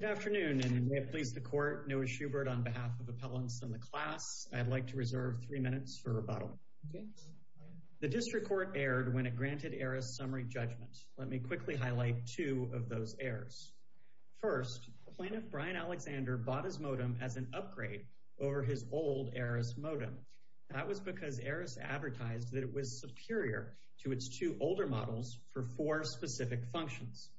Good afternoon and may it please the court, Noah Schubert on behalf of appellants in the class, I'd like to reserve three minutes for rebuttal. The district court erred when it granted ARRIS summary judgment. Let me quickly highlight two of those errors. First, Plaintiff Brian Alexander bought his modem as an upgrade over his old ARRIS modem. That was because ARRIS advertised that it was superior to its two older models for four specific functions.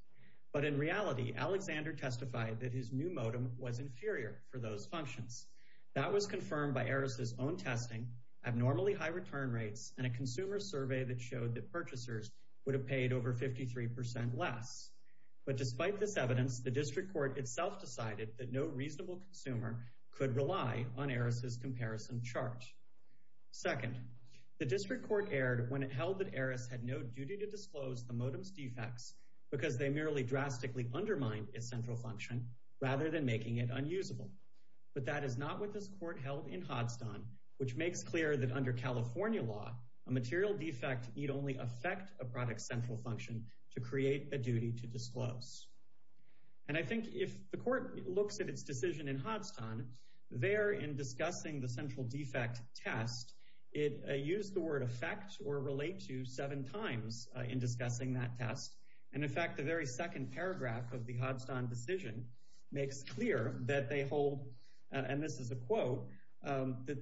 But in reality, Alexander testified that his new modem was inferior for those functions. That was confirmed by ARRIS' own testing, abnormally high return rates, and a consumer survey that showed that purchasers would have paid over 53% less. But despite this evidence, the district court itself decided that no reasonable consumer could rely on ARRIS' comparison charge. Second, the district court erred when it held that ARRIS had no duty to disclose the modem's defects because they merely drastically undermined its central function rather than making it unusable. But that is not what this court held in Hodgston, which makes clear that under California law, a material defect need only affect a product's central function to create a duty to disclose. And I think if the court looks at its decision in Hodgston, there in discussing the central defect test, it used the word affect or relate to seven times in discussing that test, and in fact, the very second paragraph of the Hodgston decision makes clear that they hold, and this is a quote, that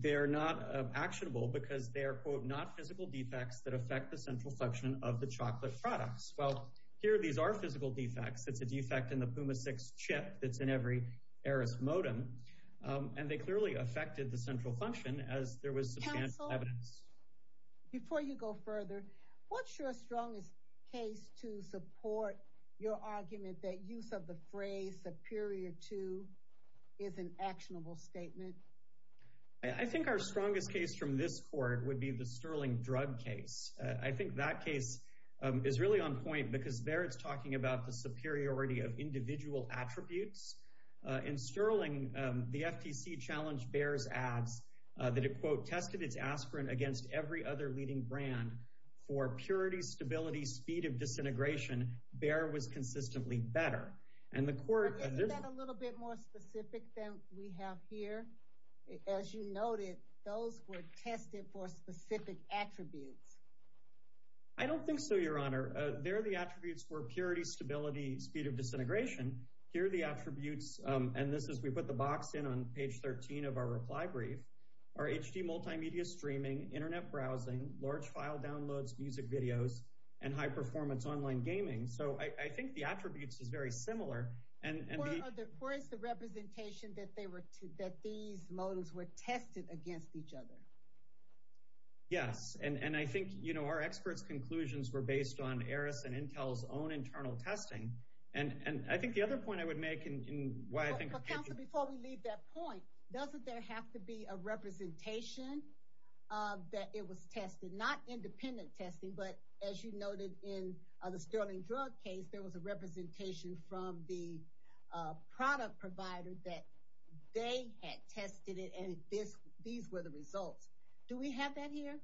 they are not actionable because they are quote, not physical defects that affect the central function of the chocolate products. Well, here these are physical defects. It's a defect in the PUMA 6 chip that's in every ARRIS modem, and they clearly affected the central function as there was substantial evidence. Before you go further, what's your strongest case to support your argument that use of the phrase superior to is an actionable statement? I think our strongest case from this court would be the Sterling drug case. I think that case is really on point because there it's talking about the superiority of individual attributes. In Sterling, the FTC challenged Bayer's ads that it quote, tested its aspirin against every other leading brand for purity, stability, speed of disintegration. Bayer was consistently better. And the court... Isn't that a little bit more specific than we have here? As you noted, those were tested for specific attributes. I don't think so, Your Honor. There are the attributes for purity, stability, speed of disintegration. Here are the attributes, and this is, we put the box in on page 13 of our reply brief, are HD multimedia streaming, internet browsing, large file downloads, music videos, and high performance online gaming. So I think the attributes is very similar. And the... Where is the representation that these modems were tested against each other? Yes, and I think our expert's conclusions were based on ARRIS and Intel's own internal testing. And I think the other point I would make in why I think... Counselor, before we leave that point, doesn't there have to be a representation that it was tested? Not independent testing, but as you noted in the sterling drug case, there was a representation from the product provider that they had tested it, and these were the results. Do we have that here?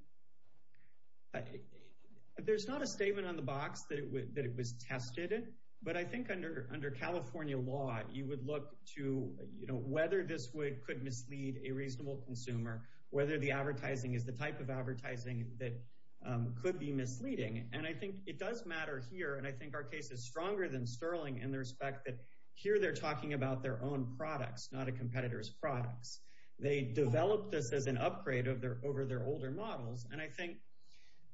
There's not a statement on the box that it was tested, but I think under California law, you would look to whether this could mislead a reasonable consumer, whether the advertising is the type of advertising that could be misleading. And I think it does matter here, and I think our case is stronger than sterling in the respect that here they're talking about their own products, not a competitor's products. They developed this as an upgrade over their older models, and I think...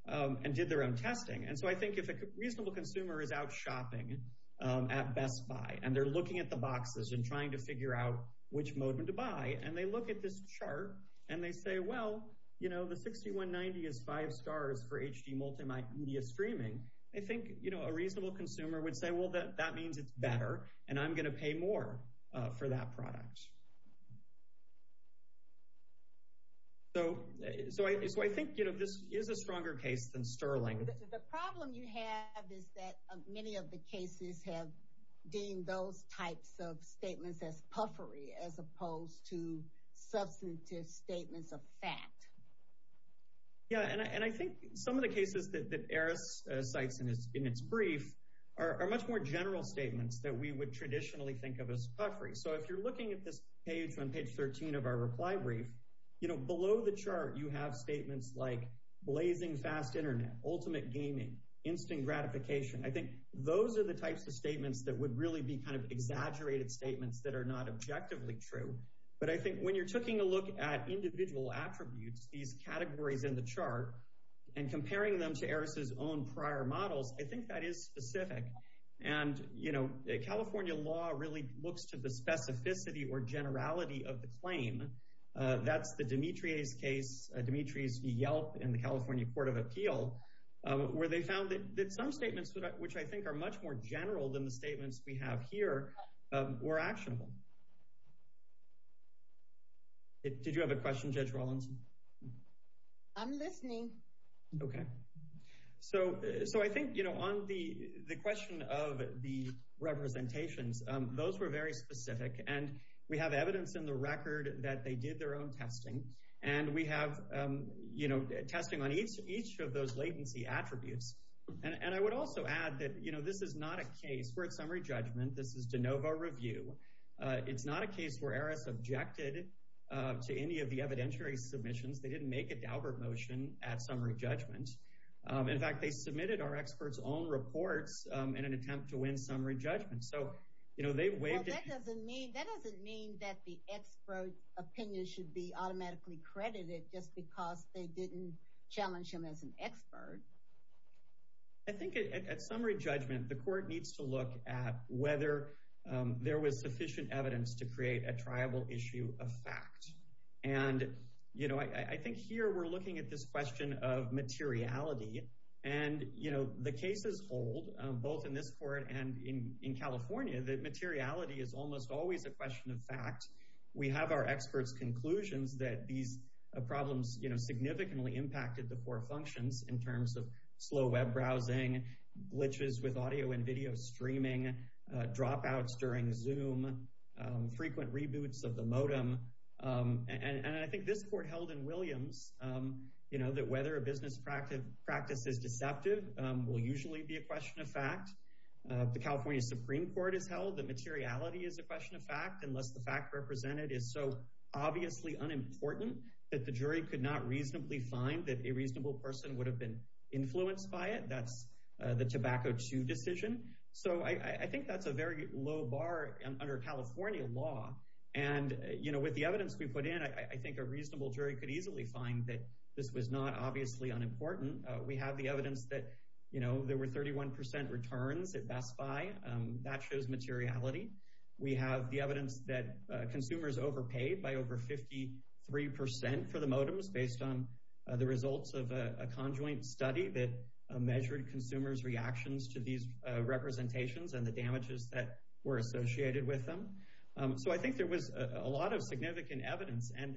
And did their own testing. And so I think if a reasonable consumer is out shopping at Best Buy, and they're looking at the boxes and trying to figure out which mode to buy, and they look at this chart, and they say, well, the 6190 is five stars for HD multimedia streaming, I think a reasonable consumer would say, well, that means it's better, and I'm gonna pay more for that product. So I think this is a stronger case than sterling. The problem you have is that many of the cases have deemed those types of statements as puffery, as opposed to substantive statements of fact. Yeah, and I think some of the cases that Eris cites in its brief are much more general statements that we would traditionally think of as puffery. So if you're looking at this page on page 13 of our reply brief, below the chart, you have statements like blazing fast internet, ultimate gaming, instant gratification. I think those are the types of statements that would really be exaggerated statements that are not objectively true. But I think when you're taking a look at individual attributes, these categories in the chart, and comparing them to Eris's own prior models, I think that is specific. And California law really looks to the specificity or generality of the claim. That's the Dimitri's case, Dimitri's Yelp in the California Court of Appeal, where they found that some statements, which I think are much more general than the statements we have here, were actionable. Did you have a question, Judge Rawlinson? I'm listening. Okay. So I think on the question of the representations, those were very specific, and we have evidence in the case that they did their own testing, and we have testing on each of those latency attributes. And I would also add that this is not a case where it's summary judgment. This is de novo review. It's not a case where Eris objected to any of the evidentiary submissions. They didn't make a Daubert motion at summary judgment. In fact, they submitted our experts' own reports in an attempt to win summary judgment. So they waived it. Well, that doesn't mean that the expert's opinion should be automatically credited just because they didn't challenge him as an expert. I think at summary judgment, the court needs to look at whether there was sufficient evidence to create a triable issue of fact. And I think here we're looking at this question of materiality, and the cases hold, both in this court and in California, that materiality is almost always a question of fact. We have our experts' conclusions that these problems significantly impacted the core functions in terms of slow web browsing, glitches with audio and video streaming, dropouts during Zoom, frequent reboots of the modem. And I think this court held in Williams that whether a business practice is deceptive will usually be a question of fact. The California Supreme Court has held that materiality is a question of fact unless the fact represented is so obviously unimportant that the jury could not reasonably find that a reasonable person would have been influenced by it. That's the Tobacco 2 decision. So I think that's a very low bar under California law. And with the evidence we put in, I think a reasonable jury could easily find that this was not obviously unimportant. We have the evidence that there were 31% returns at the modems that shows materiality. We have the evidence that consumers overpaid by over 53% for the modems based on the results of a conjoint study that measured consumers' reactions to these representations and the damages that were associated with them. So I think there was a lot of significant evidence. And,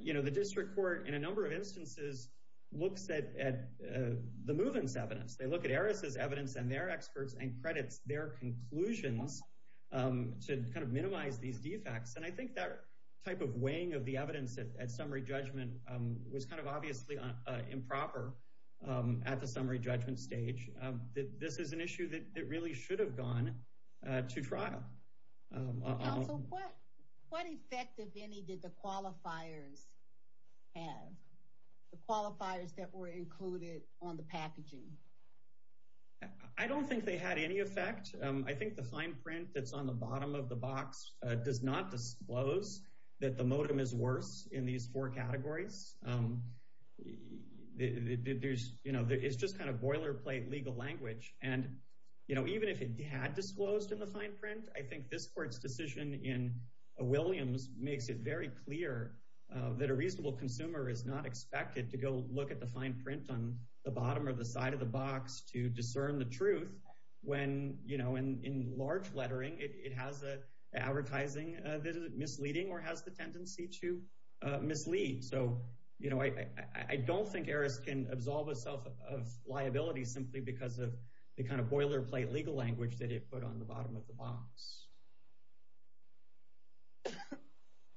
you know, the district court, in a number of instances, looks at the move-ins evidence. They look at Eris' evidence and their experts' and credits their conclusions to kind of minimize these defects. And I think that type of weighing of the evidence at summary judgment was kind of obviously improper at the summary judgment stage. This is an issue that really should have gone to trial. Counsel, what effect, if any, did the qualifiers have? The qualifiers that were I think the fine print that's on the bottom of the box does not disclose that the modem is worse in these four categories. It's just kind of boilerplate legal language. And, you know, even if it had disclosed in the fine print, I think this court's decision in Williams makes it very clear that a reasonable consumer is not expected to go look at the fine print on the bottom or the side of the box. And in large lettering, it has advertising that is misleading or has the tendency to mislead. So, you know, I don't think Eris can absolve itself of liability simply because of the kind of boilerplate legal language that it put on the bottom of the box.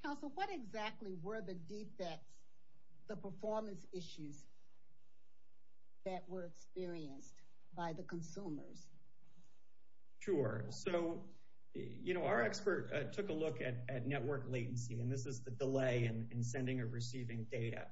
Counsel, what exactly were the defects, the performance issues, that were experienced by the consumers? Sure. So, you know, our expert took a look at network latency, and this is the delay in sending or receiving data.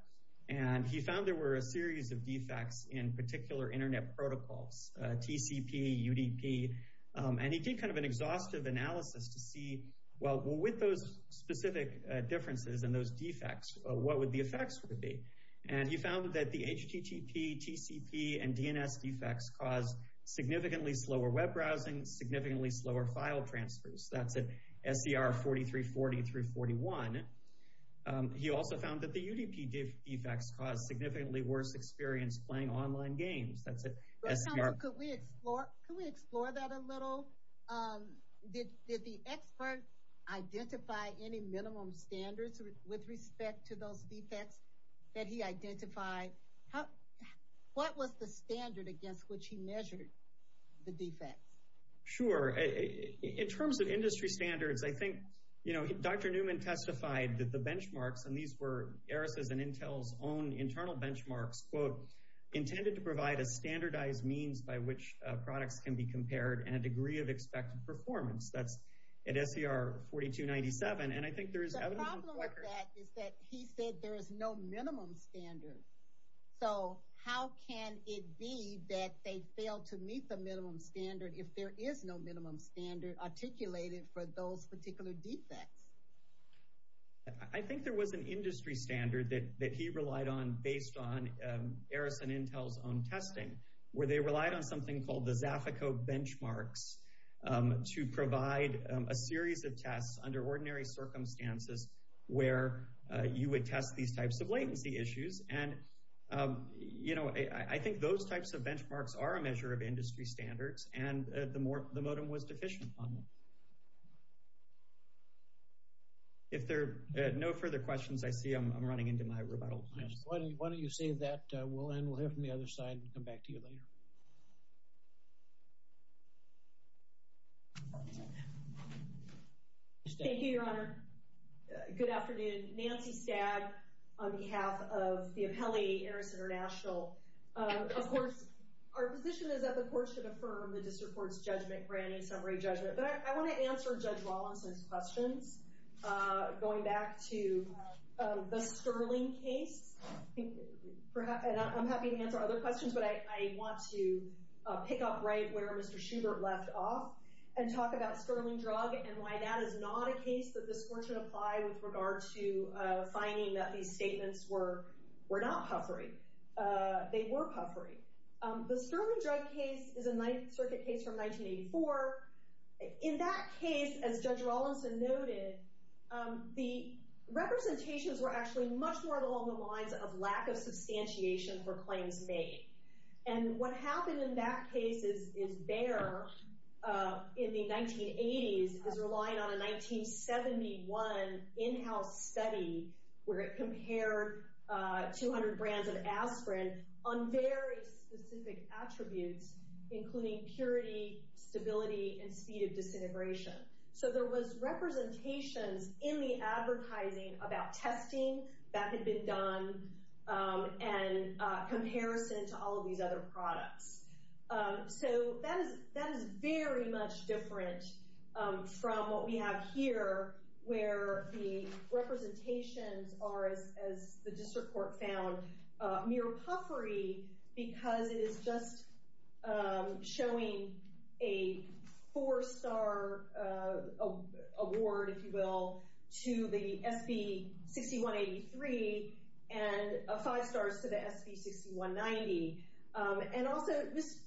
And he found there were a series of defects in particular internet protocols, TCP, UDP. And he did kind of an exhaustive analysis to see, well, with those specific differences and those defects, what would the effects would be? And he found that the HTTP, TCP, and DNS defects caused significantly slower web browsing, significantly slower file transfers. That's at SDR 4340 through 41. He also found that the UDP defects caused significantly worse experience playing online games. That's at SDR... Counsel, could we explore that a little? Did the expert identify any minimum standards with respect to those defects that he identified? What was the minimum standard at which he measured the defects? Sure. In terms of industry standards, I think, you know, Dr. Newman testified that the benchmarks, and these were ERISA's and Intel's own internal benchmarks, quote, intended to provide a standardized means by which products can be compared and a degree of expected performance. That's at SDR 4297. And I think there is... The problem with that is that he said there is no minimum standard. So how can it be that they fail to meet the minimum standard if there is no minimum standard articulated for those particular defects? I think there was an industry standard that he relied on based on ERISA and Intel's own testing, where they relied on something called the Zafico benchmarks to provide a series of tests under ordinary circumstances where you would test these types of latency issues. And, you know, I think those types of benchmarks are a measure of industry standards, and the modem was deficient on them. If there are no further questions, I see I'm running into my rebuttal time. Why don't you save that? We'll end. We'll hear from the other side and come back to you later. Thank you, Your Honor. Good afternoon. Nancy Stagg on behalf of the Appellee ERISA International. Of course, our position is that the court should affirm the district court's judgment granting summary judgment. But I want to answer Judge Rawlinson's questions. Going back to the Sterling case, I'm happy to answer other questions, but I want to pick up right where Mr. Schubert left off and talk about Sterling drug and why that is not a case that this court should apply with regard to finding that these statements were not puffery. They were puffery. The Sterling drug case is a Ninth Circuit case from 1984. In that case, as Judge Rawlinson noted, the representations were actually much more along the lines of lack of substantiation for claims made. And what happened in that case is there in the 1980s is relying on a 1971 in-house study where it compared 200 brands of aspirin on very specific attributes including purity, stability, and speed of disintegration. So there was a lot of work that had been done in comparison to all of these other products. So that is very much different from what we have here where the representations are, as the district court found, mere puffery because it is just showing a four-star award, if you agree, and five stars to the SB 6190. And also,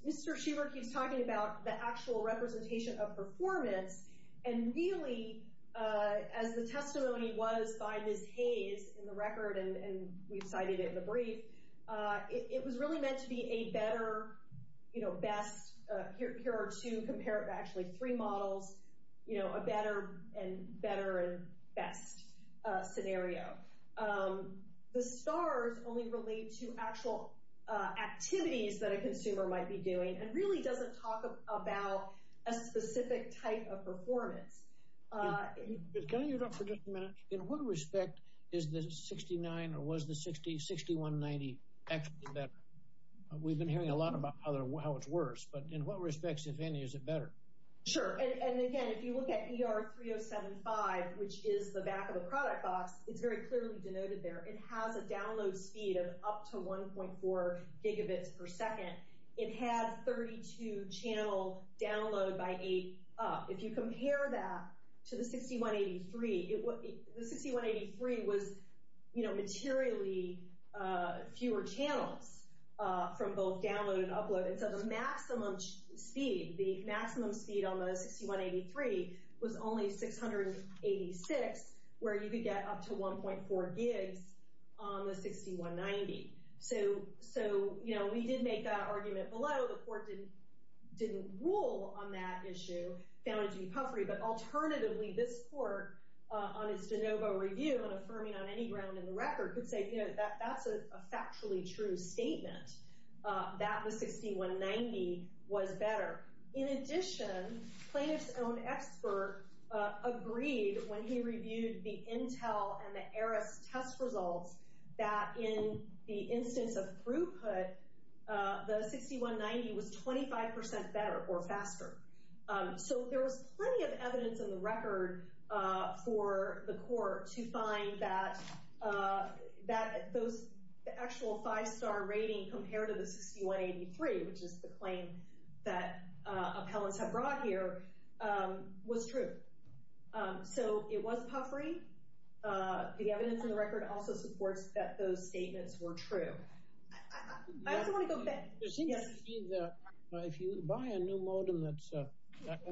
Mr. Schubert keeps talking about the actual representation of performance and really, as the testimony was by Ms. Hayes in the record, and we've cited it in the brief, it was really meant to be a better, you know, best, here are two, compare it to actually three models, you know, a better and best scenario. The stars only relate to actual activities that a consumer might be doing and really doesn't talk about a specific type of performance. Can I interrupt for just a minute? In what respect is the 69 or was the 6190 actually better? We've been hearing a lot about how it's worse, but in what respect? In the 3075, which is the back of the product box, it's very clearly denoted there, it has a download speed of up to 1.4 gigabits per second, it has 32 channel download by 8 up. If you compare that to the 6183, the 6183 was, you know, materially fewer channels from both download and upload, and so the maximum speed, the maximum speed on the 6183 was only 686, where you could get up to 1.4 gigs on the 6190. So, you know, we did make that argument below, the court didn't rule on that issue, found it to be puffery, but alternatively, this court, on its de novo review, and affirming on any ground in the record, could say, you know, that's a plaintiff's own expert agreed when he reviewed the Intel and the AERIS test results, that in the instance of throughput, the 6190 was 25% better or faster. So there was plenty of evidence in the record for the court to find that that those actual five-star rating compared to the 6183, which is the claim that appellants have brought here, was true. So it was puffery. The evidence in the record also supports that those statements were true. It seems to me that if you buy a new modem that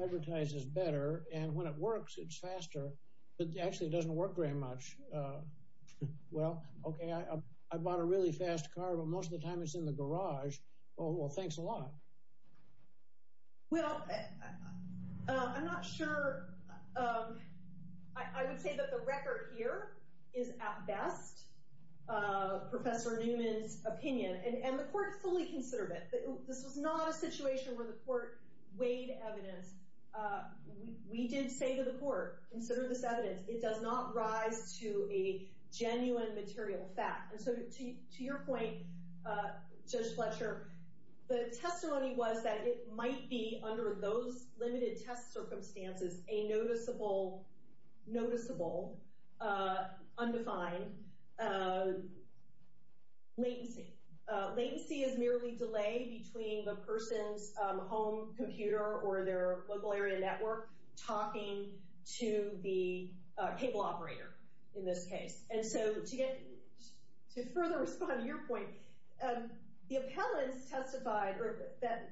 advertises better, and when it works, it's faster, but actually doesn't work very much. Well, okay, I bought a really fast car, but most of the time it's in the garage. Oh, well, thanks a lot. Well, I'm not sure. I would say that the record here is, at best, Professor Newman's opinion, and the court fully considered it. This was not a situation where the court weighed evidence. We did say to the court, consider this evidence. It does not rise to a genuine material fact. And so to your point, Judge Fletcher, the testimony was that it might be, under those limited test circumstances, a noticeable, noticeable, undefined latency. Latency is merely delay between the person's home computer or their local area network talking to the cable operator, in this case. And so to get, to further respond to your point, the appellants testified, or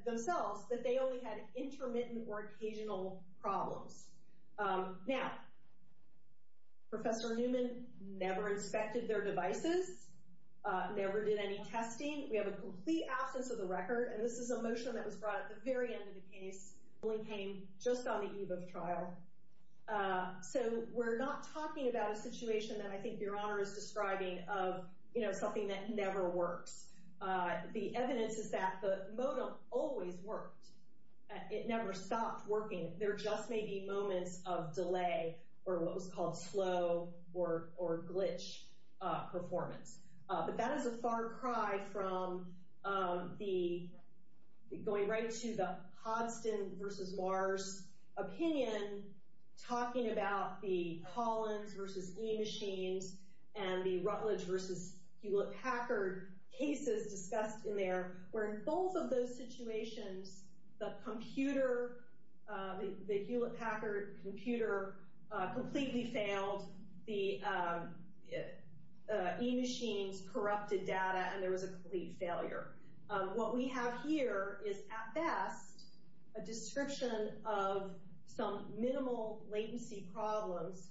themselves, that they only had intermittent or occasional problems. Now, Professor Newman never inspected their devices, never did any testing. We have a complete absence of the record, and this is a motion that was brought at the very end of the case. The ruling came just on the eve of trial. So we're not talking about a situation that I think Your Honor is describing of, you know, something that never works. The evidence is that the modem always worked. It never stopped working. There just may be moments of delay, or what was called slow or glitch performance. But that is a far cry from the, going right to the Hodson versus Mars opinion, talking about the Collins versus E-Machines and the Rutledge versus Hewlett-Packard cases discussed in there, where in both of those situations, the Hewlett-Packard computer completely failed, the E-Machines corrupted data, and there was a complete failure. What we have here is, at best, a description of some minimal latency problems.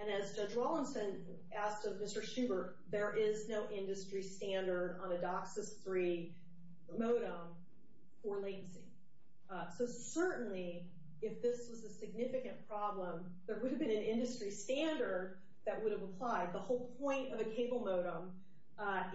And as Judge Rawlinson asked of Mr. Schubert, there is no industry standard on a DOCSIS III modem for latency. So certainly, if this was a significant problem, there would have been an industry standard that would have applied. The whole point of a cable modem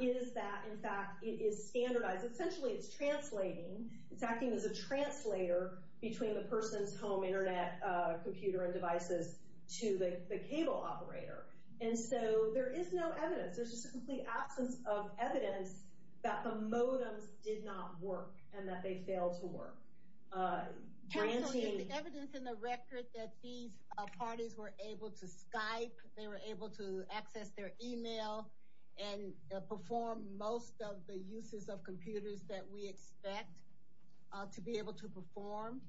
is that, in fact, it is standardized. Essentially, it's translating. It's acting as a translator between the person's home internet computer and devices to the cable operator. And so there is no evidence. There's just a complete absence of evidence that the modems did not work and that they failed to work. Counsel, is there evidence in the record that these parties were able to Skype, they were able to access their email, and perform most of the uses of computers that we expect to be able to perform?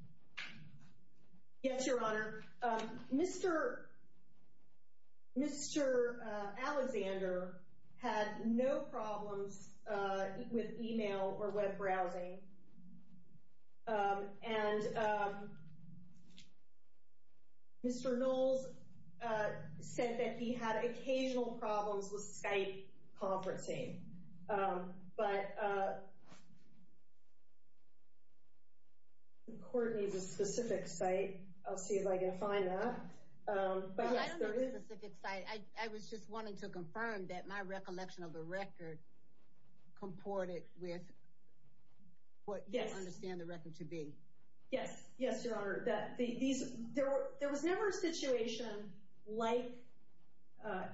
Yes, Your Honor. Mr. Alexander had no problems with email or web browsing. And Mr. Knowles said that he had occasional problems with Skype conferencing. But the court needs a specific site. I'll see if I can find that. Well, I don't need a specific site. I was just wanting to confirm that my report it with what you understand the record to be. Yes, Your Honor. There was never a situation like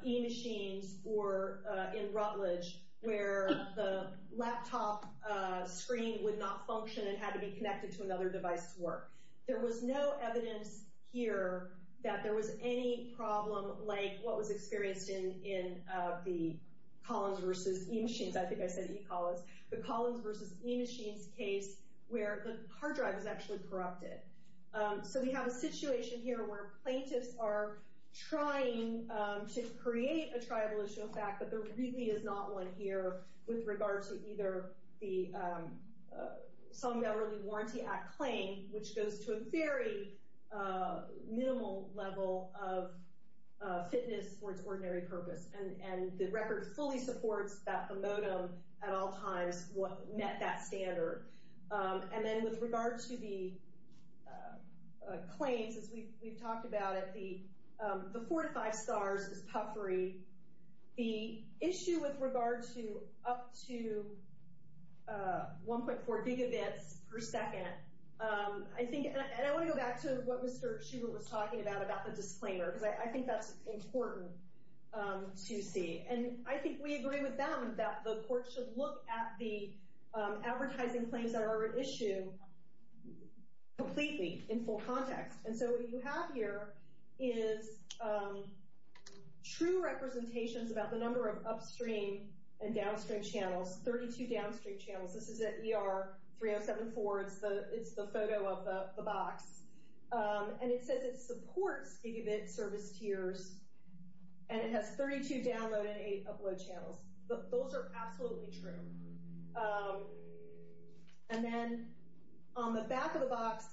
eMachines or in Rutledge where the laptop screen would not function and had to be connected to another device to work. There was no evidence here that there was any problem like what was I said, eCollins. The Collins versus eMachines case where the hard drive is actually corrupted. So we have a situation here where plaintiffs are trying to create a tribal issue of fact, but there really is not one here with regards to either the Song Valley Warranty Act claim, which goes to a very minimal level of fitness for its ordinary purpose. And the record fully supports that the modem at all times met that standard. And then with regard to the claims, as we've talked about it, the four to five stars is puffery. The issue with regard to up to 1.4 gigabits per second, I think, and I want to go back to what Mr. Schubert was talking about, about the disclaimer, because I think that's important to see. And I think we agree with them that the court should look at the advertising claims that are at issue completely in full context. And so what you have here is true representations about the number of upstream and downstream channels, 32 downstream channels. This is at ER 3074. It's the And it has 32 download and 8 upload channels. Those are absolutely true. And then on the back of the box,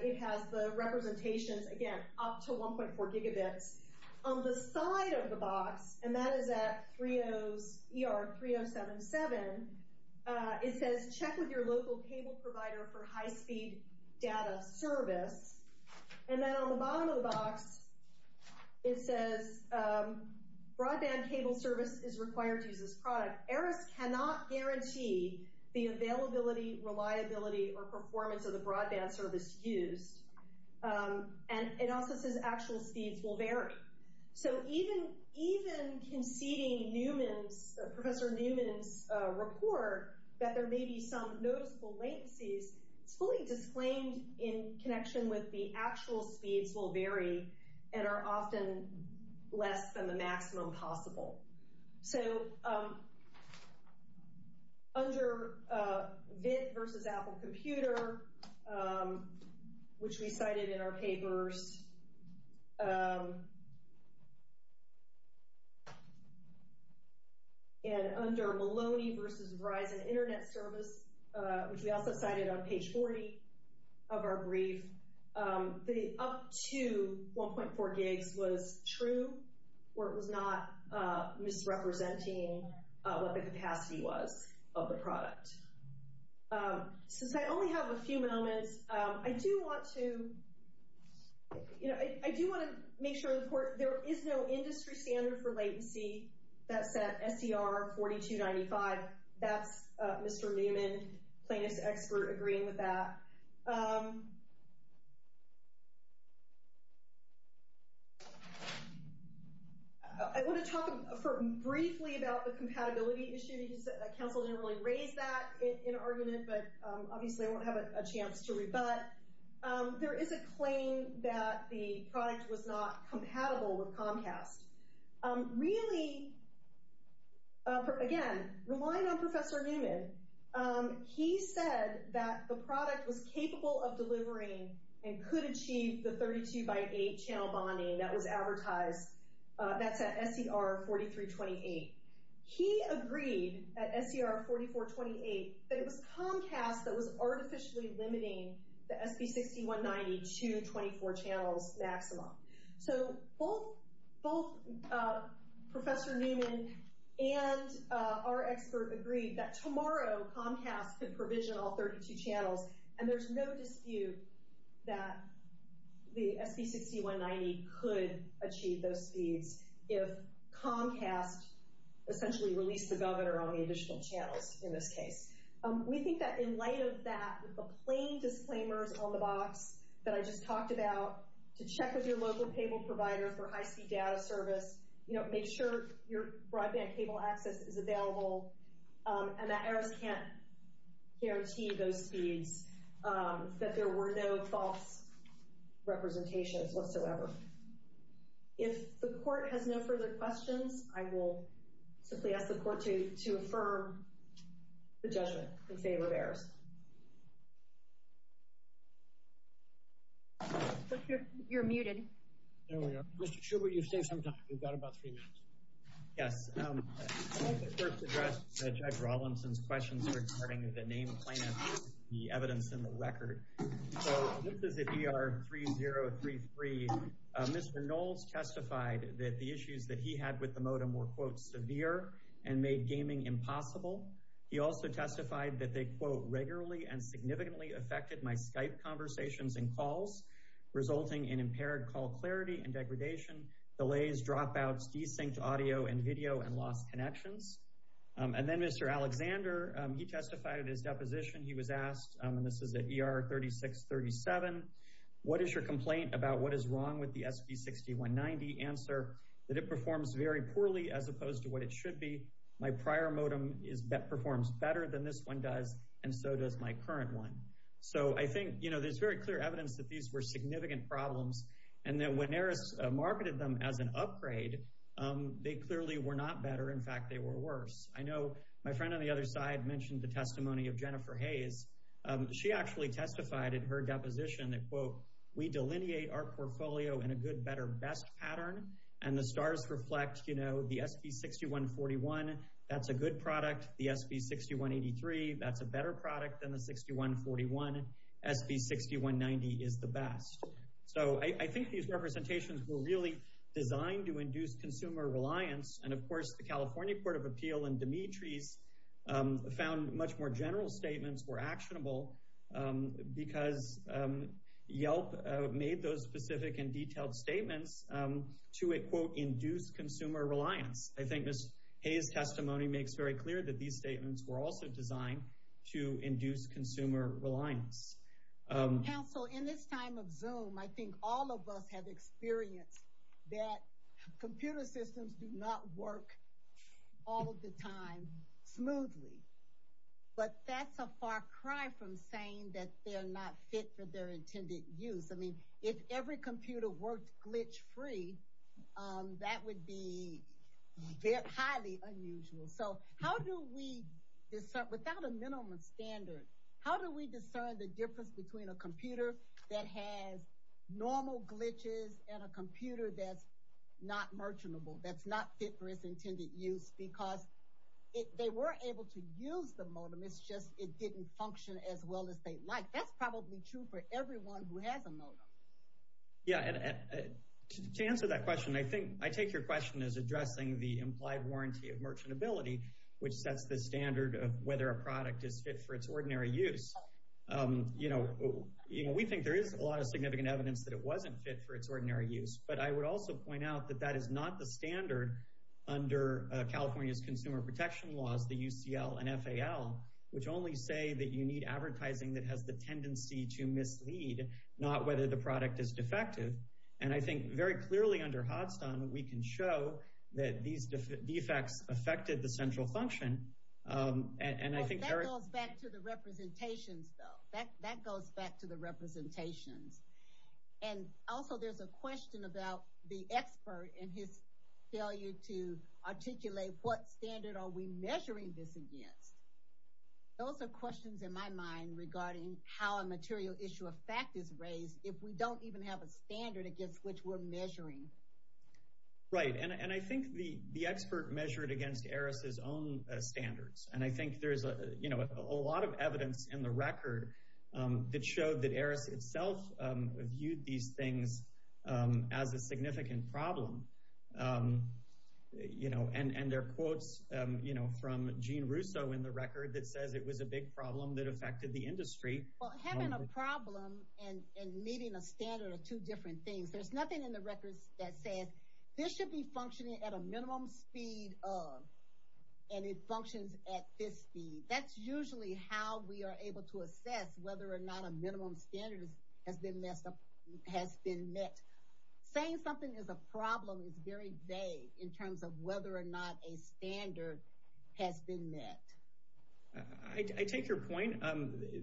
it has the representations, again, up to 1.4 gigabits. On the side of the box, and that is at ER 3077, it says check with your local cable provider for broadband cable service is required to use this product. ERIS cannot guarantee the availability, reliability, or performance of the broadband service used. And it also says actual speeds will vary. So even conceding Newman's, Professor Newman's report that there may be some noticeable latencies, it's fully disclaimed in connection with the actual speeds will vary and are often less than the maximum possible. So under VIT versus Apple Computer, which we cited in our papers, and under Maloney versus Verizon Internet Service, which we also cited on page 40 of our brief, the up to 1.4 gigs was true, or it was not misrepresenting what the capacity was of the product. Since I only have a few moments, I do want to, you know, I do want to make sure there is no industry standard for latency. That's at SER 4295. That's Mr. Newman, plaintiff's expert, agreeing with that. I want to talk briefly about the compatibility issue. Council didn't really raise that in argument, but obviously I won't have a chance to rebut. There is a claim that the product was not compatible. But based on Professor Newman, he said that the product was capable of delivering and could achieve the 32 by 8 channel bonding that was advertised. That's at SER 4328. He agreed at SER 4428 that it was Comcast that was artificially limiting the SB6190 to 24 channels maximum. So both Professor Newman and our expert agreed that tomorrow Comcast could provision all 32 channels, and there's no dispute that the SB6190 could achieve those speeds if Comcast essentially released the governor on the additional channels in this case. We think that in light of that, with the plain disclaimers on the box that I just talked about, to check with your local cable provider for high-speed data service, you know, make sure your broadband cable access is available, and that EROS can't guarantee those speeds, that there were no false representations whatsoever. If the court has no further questions, I will simply ask the court to affirm the judgment in favor of EROS. You're muted. There we are. Mr. Schubert, you've saved some time. We've got about three minutes. Yes. I'd like to first address Judge Rawlinson's questions regarding the name plan, the evidence, and the record. So this is at ER3033. Mr. Knowles testified that the issues that he had with the modem were, quote, severe and made gaming impossible. He also testified that they, quote, regularly and significantly affected my Skype conversations and calls, resulting in impaired call clarity and degradation, delays, dropouts, desynched audio and video, and lost connections. And then Mr. Alexander, he testified at his deposition. He was asked, and this is at ER3637, what is your complaint about what is wrong with the SB6190? Answer, that it performs very poorly as opposed to what it should be. My prior modem performs better than this one does, and so does my current one. So I think, you know, there's very clear evidence that these were significant problems, and that when EROS marketed them as an upgrade, they clearly were not better. In fact, they were worse. I know my friend on the other side mentioned the testimony of Jennifer Hayes. She actually testified at her deposition that, quote, we delineate our portfolio in a good, better, best pattern, and the stars reflect, you know, the SB6141, that's a good product. The SB6183, that's a better product than the 6141. SB6190 is the best. So I think these representations were really designed to induce consumer reliance, and of course, the California Court of Appeal and Demetri's found much more general statements were actionable because Yelp made those specific and detailed statements to, quote, induce consumer reliance. I think Ms. Hayes' testimony makes very clear that these statements were also designed to induce consumer reliance. Counsel, in this time of Zoom, I think all of us have experienced that computer systems do not work all of the time smoothly, but that's a far cry from saying that they're not fit for their intended use. I mean, if every computer worked glitch-free, that would be highly unusual. So how do we discern, without a minimum standard, how do we discern the difference between a computer that has normal glitches and a computer that's not merchantable, that's not fit for its intended use? Because if they were able to use the modem, it's just it didn't function as well as they'd like. That's probably true for everyone who has a modem. Yeah, and to answer that question, I think, I take your question as addressing the implied warranty of merchantability, which sets the standard of whether a product is fit for its ordinary use. You know, we think there is a lot of significant evidence that it wasn't fit for its ordinary use, but I would also point out that that is not the standard under California's consumer protection laws, the UCL and FAL, which only say that you need advertising that has the tendency to mislead, not whether the product is defective. And I think very clearly under Hodgson, we can show that these defects affected the central function. And I think that goes back to the representations, though. That goes back to the representations. And also, there's a question about the expert and his failure to articulate what standard are we measuring this against? Those are questions in my mind regarding how a material issue of fact is raised if we don't even have a standard against which we're measuring. Right. And I think the expert measured against ARIS's own standards. And I think there's a lot of evidence in the record that showed that ARIS itself viewed these things as a significant problem. And there are quotes from Gene Russo in the record that says it was a big problem that affected the industry. Well, having a problem and meeting a standard are two different things. There's nothing in the records that says this should be functioning at a minimum speed and it functions at this speed. That's usually how we are able to assess whether or not a minimum standard has been met. Saying something is a problem is very vague in terms of whether or not a standard has been met. I take your point.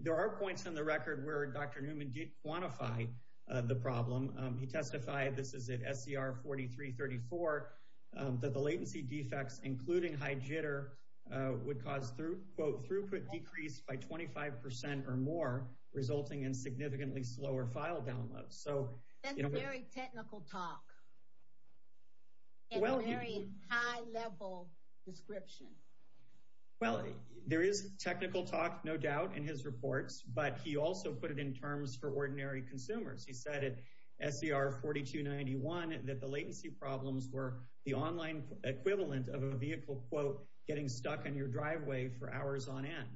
There are points in the record where Dr. Newman did quantify the problem. He testified, this is at SCR 4334, that the latency defects, including high jitter, would cause throughput decrease by 25% or more, resulting in significantly slower file downloads. That's very technical talk and very high-level description. Well, there is technical talk, no doubt, in his reports, but he also put it in terms for ordinary consumers. He said at SCR 4291 that the latency problems were the online equivalent of a vehicle, quote, getting stuck in your driveway for hours on end.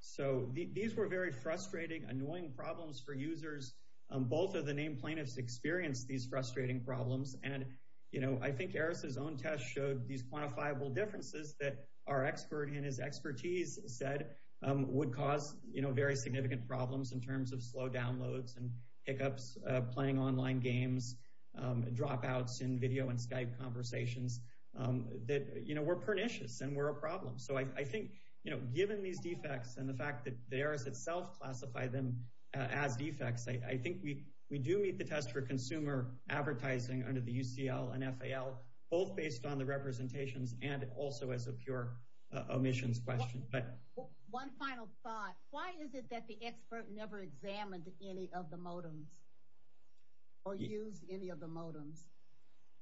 So these were very frustrating, annoying problems for users. Both of the named plaintiffs experienced these frustrating problems. I think Eris's own test showed these quantifiable differences that our expert, in his expertise, said would cause very significant problems in terms of slow downloads and hiccups playing online games, dropouts in video and Skype conversations, that we're pernicious and we're a problem. So I think given these defects and the fact that Eris itself classified them as defects, I think we do meet the test for consumer advertising under the UCL and FAL, both based on the representations and also as a pure omissions question. One final thought. Why is it that the expert never examined any of the modems or used any of the modems?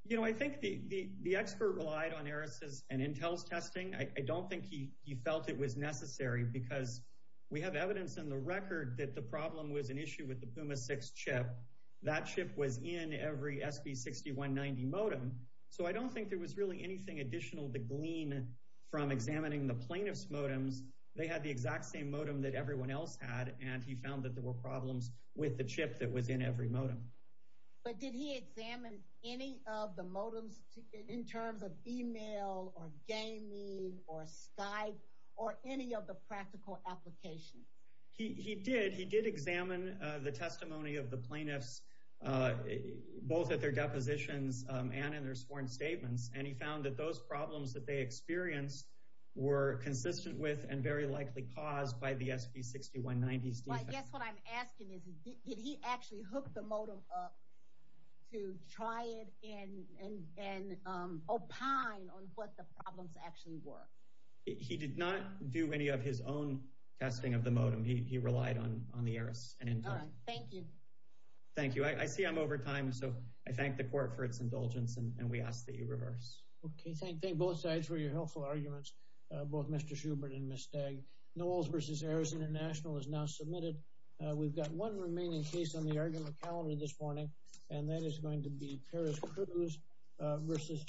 You know, I think the expert relied on Eris's and Intel's testing. I the problem was an issue with the Puma 6 chip. That chip was in every SB6190 modem. So I don't think there was really anything additional to glean from examining the plaintiff's modems. They had the exact same modem that everyone else had, and he found that there were problems with the chip that was in every modem. But did he examine any of the modems in terms of email or gaming or Skype or any of the practical applications? He did. He did examine the testimony of the plaintiffs, both at their depositions and in their sworn statements, and he found that those problems that they experienced were consistent with and very likely caused by the SB6190's defects. I guess what I'm asking is, did he actually hook the modem up to try it and opine on what the problems actually were? He did not do any of his own testing of the modem. He relied on the Eris and Intel. All right. Thank you. Thank you. I see I'm over time, so I thank the court for its indulgence, and we ask that you reverse. Okay. Thank both sides for your helpful arguments, both Mr. Schubert and Ms. Stagg. Knowles v. Eris International is now submitted. We've got one remaining case on the argument this morning, and that is going to be Peres-Cruz v. Garland.